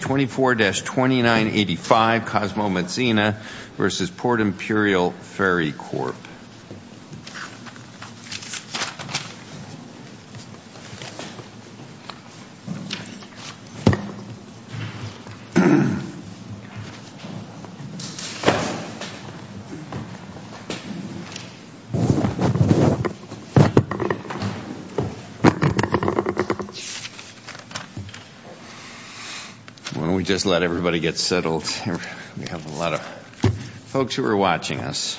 24-2985 Cosmo Mezzina v. Port Imperial Ferry Corp. When we just let everybody get settled, we have a lot of folks who are watching us.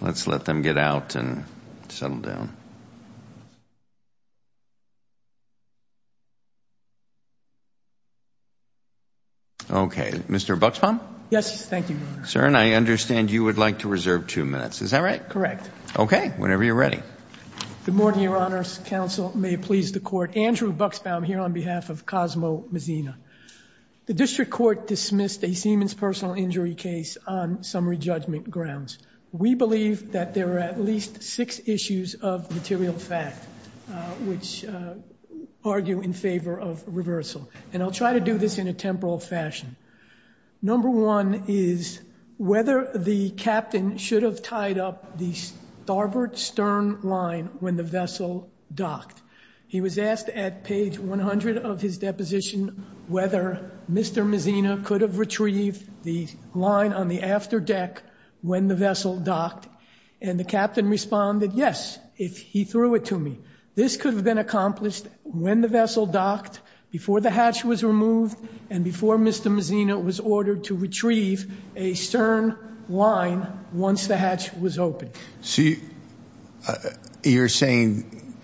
Let's let them get out and settle down. Okay, Mr. Buxbaum? Yes, thank you, Your Honor. Sir, I understand you would like to reserve two minutes. Is that right? Correct. Okay, whenever you're ready. Good morning, Your Honor. Counsel, may it please the Court, Andrew Buxbaum here on behalf of Cosmo Mezzina. The District Court dismissed a Siemens personal injury case on summary judgment grounds. We believe that there are at least six issues of material fact which argue in favor of reversal. And I'll try to do this in a temporal fashion. Number one is whether the captain should have tied up the starboard stern line when the vessel docked. He was asked at page 100 of his deposition whether Mr. Mezzina could have retrieved the line on the after deck when the vessel docked. And the captain responded, yes, if he threw it to me. This could have been accomplished when the vessel docked, before the hatch was removed, and before Mr. Mezzina was ordered to retrieve a stern line once the hatch was opened. So you're saying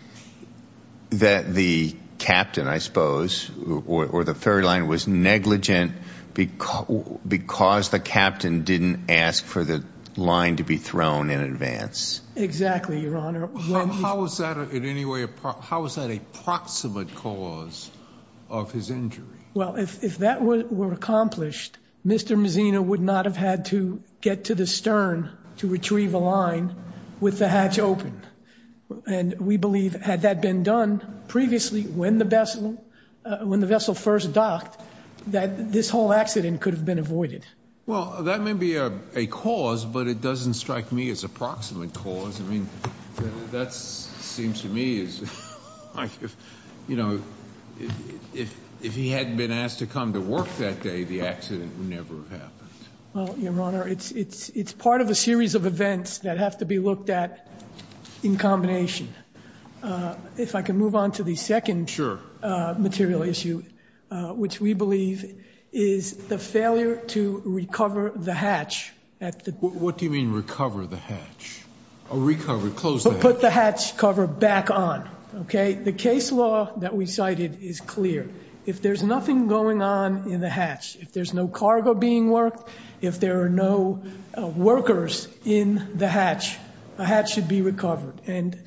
that the captain, I suppose, or the ferry line, was negligent because the captain didn't ask for the line to be thrown in advance? Exactly, Your Honor. How is that in any way, how is that a proximate cause of his injury? Well, if that were accomplished, Mr. Mezzina would not have had to get to the stern to retrieve a line with the hatch open. And we believe, had that been done previously when the vessel first docked, that this whole accident could have been avoided. Well, that may be a cause, but it doesn't strike me as a proximate cause. I mean, that seems to me as, you know, if he hadn't been asked to come to work that day, the accident would never have happened. Well, Your Honor, it's part of a series of events that have to be looked at in combination. If I can move on to the second material issue, which we believe is the failure to recover the hatch. What do you mean recover the hatch? Put the hatch cover back on, okay? The case law that we cited is clear. If there's nothing going on in the hatch, if there's no cargo being worked, if there are no workers in the hatch, the hatch should be recovered. And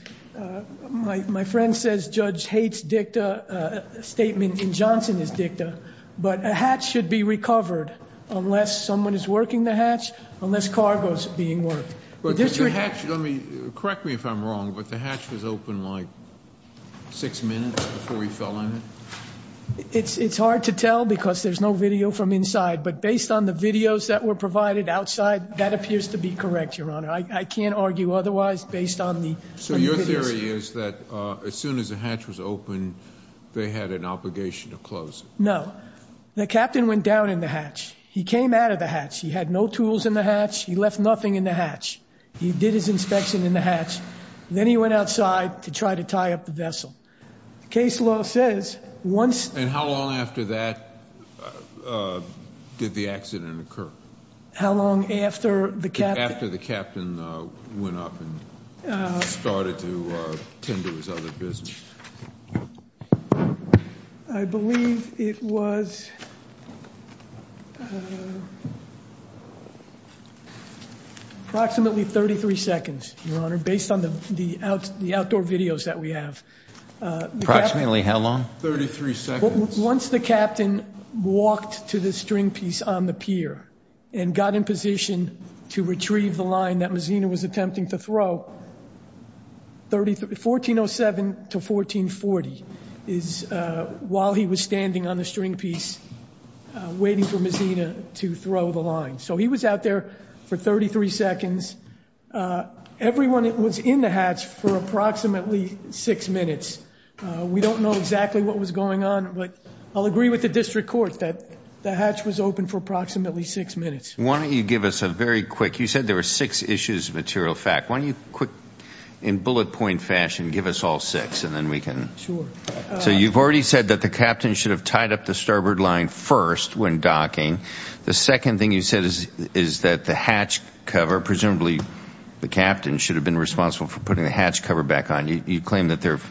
my friend says Judge hates dicta, a statement in Johnson is dicta. But a hatch should be recovered unless someone is working the hatch, unless cargo is being worked. Correct me if I'm wrong, but the hatch was open like six minutes before he fell in it? It's hard to tell because there's no video from inside. But based on the videos that were provided outside, that appears to be correct, Your Honor. I can't argue otherwise based on the videos. So your theory is that as soon as the hatch was open, they had an obligation to close it? No. The captain went down in the hatch. He came out of the hatch. He had no tools in the hatch. He left nothing in the hatch. He did his inspection in the hatch. Then he went outside to try to tie up the vessel. The case law says once- And how long after that did the accident occur? How long after the captain- Went up and started to tend to his other business? I believe it was approximately 33 seconds, Your Honor, based on the outdoor videos that we have. Approximately how long? 33 seconds. Once the captain walked to the string piece on the pier and got in position to retrieve the line that Mazina was attempting to throw, 1407 to 1440 is while he was standing on the string piece waiting for Mazina to throw the line. So he was out there for 33 seconds. Everyone was in the hatch for approximately six minutes. We don't know exactly what was going on, but I'll agree with the district court that the hatch was open for approximately six minutes. Why don't you give us a very quick- You said there were six issues of material fact. Why don't you quick, in bullet point fashion, give us all six and then we can- So you've already said that the captain should have tied up the starboard line first when docking. The second thing you said is that the hatch cover- Presumably the captain should have been responsible for putting the hatch cover back on. You claim that there are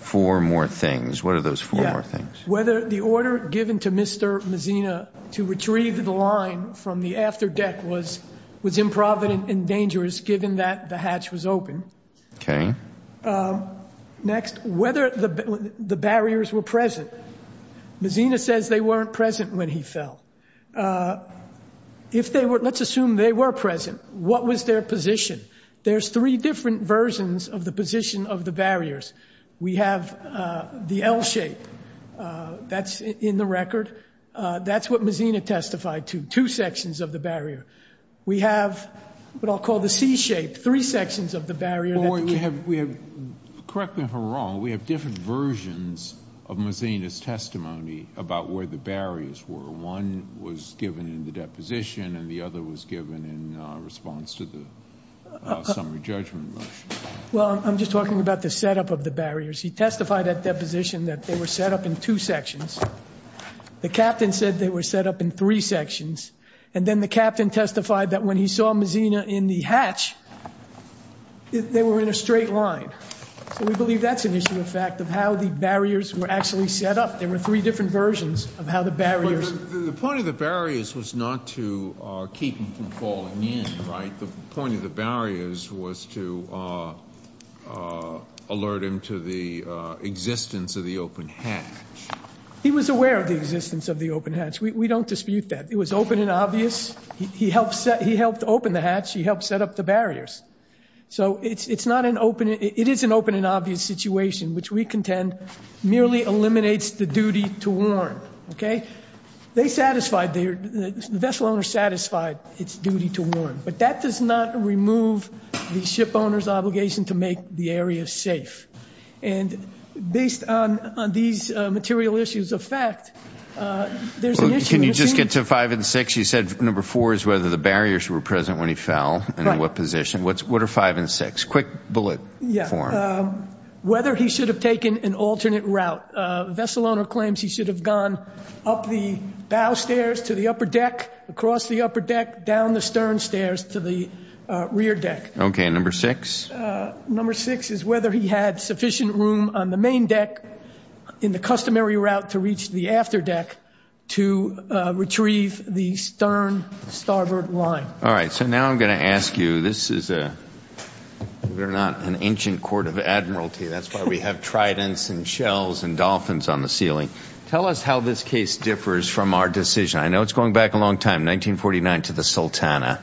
four more things. What are those four more things? Whether the order given to Mr. Mazina to retrieve the line from the after deck was improvident and dangerous given that the hatch was open. Next, whether the barriers were present. Mazina says they weren't present when he fell. Let's assume they were present. What was their position? There's three different versions of the position of the barriers. We have the L shape. That's in the record. That's what Mazina testified to, two sections of the barrier. We have what I'll call the C shape, three sections of the barrier- We have- Correct me if I'm wrong. We have different versions of Mazina's testimony about where the barriers were. One was given in the deposition and the other was given in response to the summary judgment motion. Well, I'm just talking about the setup of the barriers. He testified at deposition that they were set up in two sections. The captain said they were set up in three sections. And then the captain testified that when he saw Mazina in the hatch, they were in a straight line. So we believe that's an issue of fact of how the barriers were actually set up. There were three different versions of how the barriers- The point of the barriers was not to keep him from falling in, right? The point of the barriers was to alert him to the existence of the open hatch. He was aware of the existence of the open hatch. We don't dispute that. It was open and obvious. He helped open the hatch. He helped set up the barriers. So it's not an open- It is an open and obvious situation, which we contend merely eliminates the duty to warn, okay? They satisfied their- the vessel owner satisfied its duty to warn. But that does not remove the ship owner's obligation to make the area safe. And based on these material issues of fact, there's an issue- Can you just get to five and six? You said number four is whether the barriers were present when he fell and in what position. What are five and six? Quick bullet form. Whether he should have taken an alternate route. Vessel owner claims he should have gone up the bow stairs to the upper deck, across the upper deck, down the stern stairs to the rear deck. Okay, and number six? Number six is whether he had sufficient room on the main deck in the customary route to reach the after deck to retrieve the stern starboard line. All right, so now I'm going to ask you- This is a- we're not an ancient court of admiralty. That's why we have tridents and shells and dolphins on the ceiling. Tell us how this case differs from our decision. I know it's going back a long time, 1949, to the Sultana.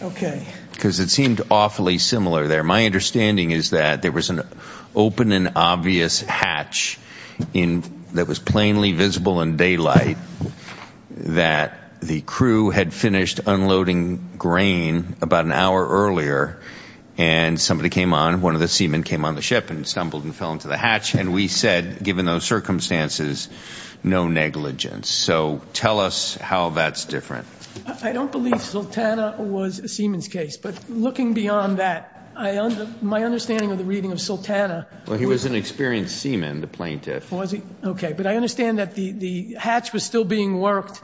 Okay. Because it seemed awfully similar there. My understanding is that there was an open and obvious hatch that was plainly visible in daylight that the crew had finished unloading grain about an hour earlier, and somebody came on, one of the seamen came on the ship and stumbled and fell into the hatch, and we said, given those circumstances, no negligence. So tell us how that's different. I don't believe Sultana was a seaman's case. But looking beyond that, my understanding of the reading of Sultana- Well, he was an experienced seaman, the plaintiff. Was he? Okay. But I understand that the hatch was still being worked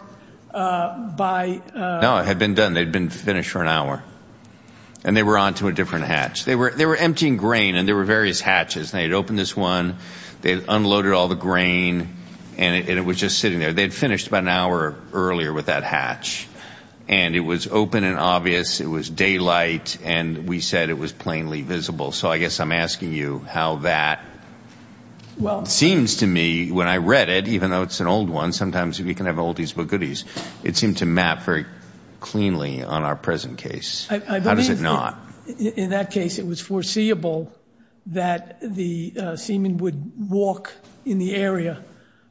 by- No, it had been done. They had been finished for an hour, and they were on to a different hatch. They were emptying grain, and there were various hatches. They had opened this one. They had unloaded all the grain, and it was just sitting there. They had finished about an hour earlier with that hatch, and it was open and obvious. It was daylight, and we said it was plainly visible. So I guess I'm asking you how that seems to me. When I read it, even though it's an old one, sometimes if you can have oldies but goodies, it seemed to map very cleanly on our present case. How does it not? In that case, it was foreseeable that the seaman would walk in the area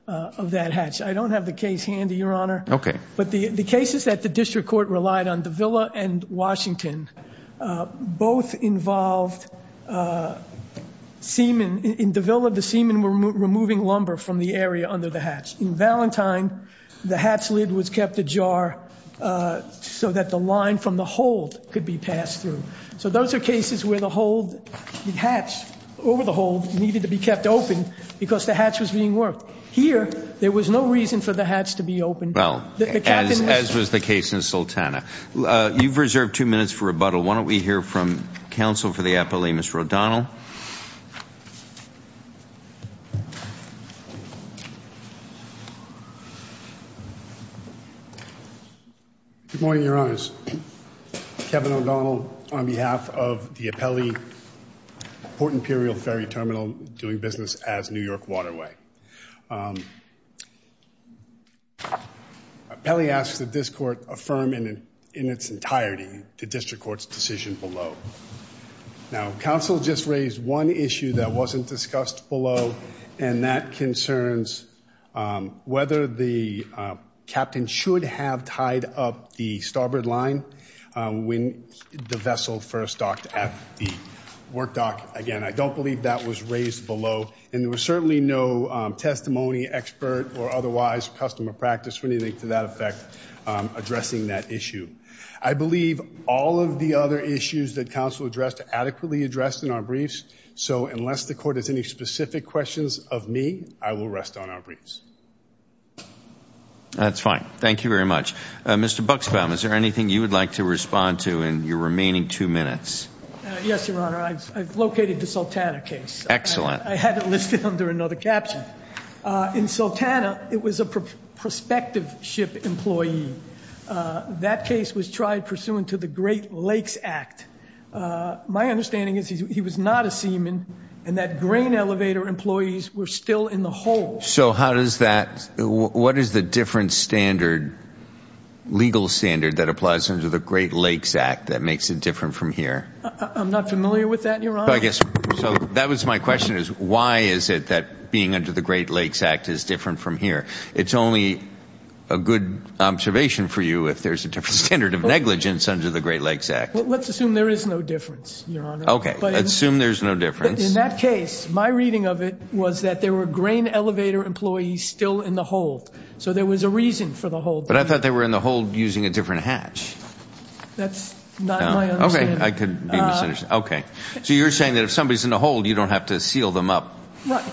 of that hatch. I don't have the case handy, Your Honor. Okay. But the cases that the district court relied on, Davila and Washington, both involved seaman. In Davila, the seaman were removing lumber from the area under the hatch. In Valentine, the hatch lid was kept ajar so that the line from the hold could be passed through. So those are cases where the hold, the hatch over the hold needed to be kept open because the hatch was being worked. Here, there was no reason for the hatch to be opened. Well, as was the case in Sultana. You've reserved two minutes for rebuttal. Why don't we hear from counsel for the appellee, Mr. O'Donnell. Good morning, Your Honors. Kevin O'Donnell on behalf of the appellee, Port Imperial Ferry Terminal, doing business as New York Waterway. Appellee asks that this court affirm in its entirety the district court's decision below. Now, counsel just raised one issue that wasn't discussed below, and that concerns whether the captain should have tied up the starboard line when the vessel first docked at the work dock. Again, I don't believe that was raised below. And there was certainly no testimony, expert, or otherwise customer practice or anything to that effect addressing that issue. I believe all of the other issues that counsel addressed are adequately addressed in our briefs. So unless the court has any specific questions of me, I will rest on our briefs. That's fine. Thank you very much. Mr. Buxbaum, is there anything you would like to respond to in your remaining two minutes? Yes, Your Honor. I've located the Sultana case. I had it listed under another caption. In Sultana, it was a prospective ship employee. That case was tried pursuant to the Great Lakes Act. My understanding is he was not a seaman and that grain elevator employees were still in the hold. So how does that ñ what is the different standard, legal standard, that applies under the Great Lakes Act that makes it different from here? I'm not familiar with that, Your Honor. So that was my question is why is it that being under the Great Lakes Act is different from here? It's only a good observation for you if there's a different standard of negligence under the Great Lakes Act. Let's assume there is no difference, Your Honor. Okay. Assume there's no difference. In that case, my reading of it was that there were grain elevator employees still in the hold. So there was a reason for the hold. But I thought they were in the hold using a different hatch. That's not my understanding. Okay. I could be misunderstanding. Okay. So you're saying that if somebody's in the hold, you don't have to seal them up. Right.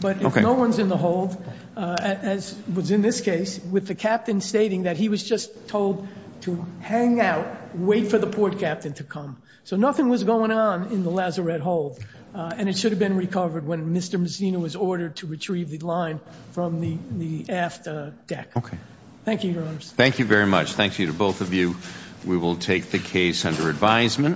But if no one's in the hold, as was in this case, with the captain stating that he was just told to hang out, wait for the port captain to come. So nothing was going on in the lazarette hold. And it should have been recovered when Mr. Messina was ordered to retrieve the line from the aft deck. Okay. Thank you, Your Honors. Thank you very much. Thank you to both of you. We will take the case under advisement.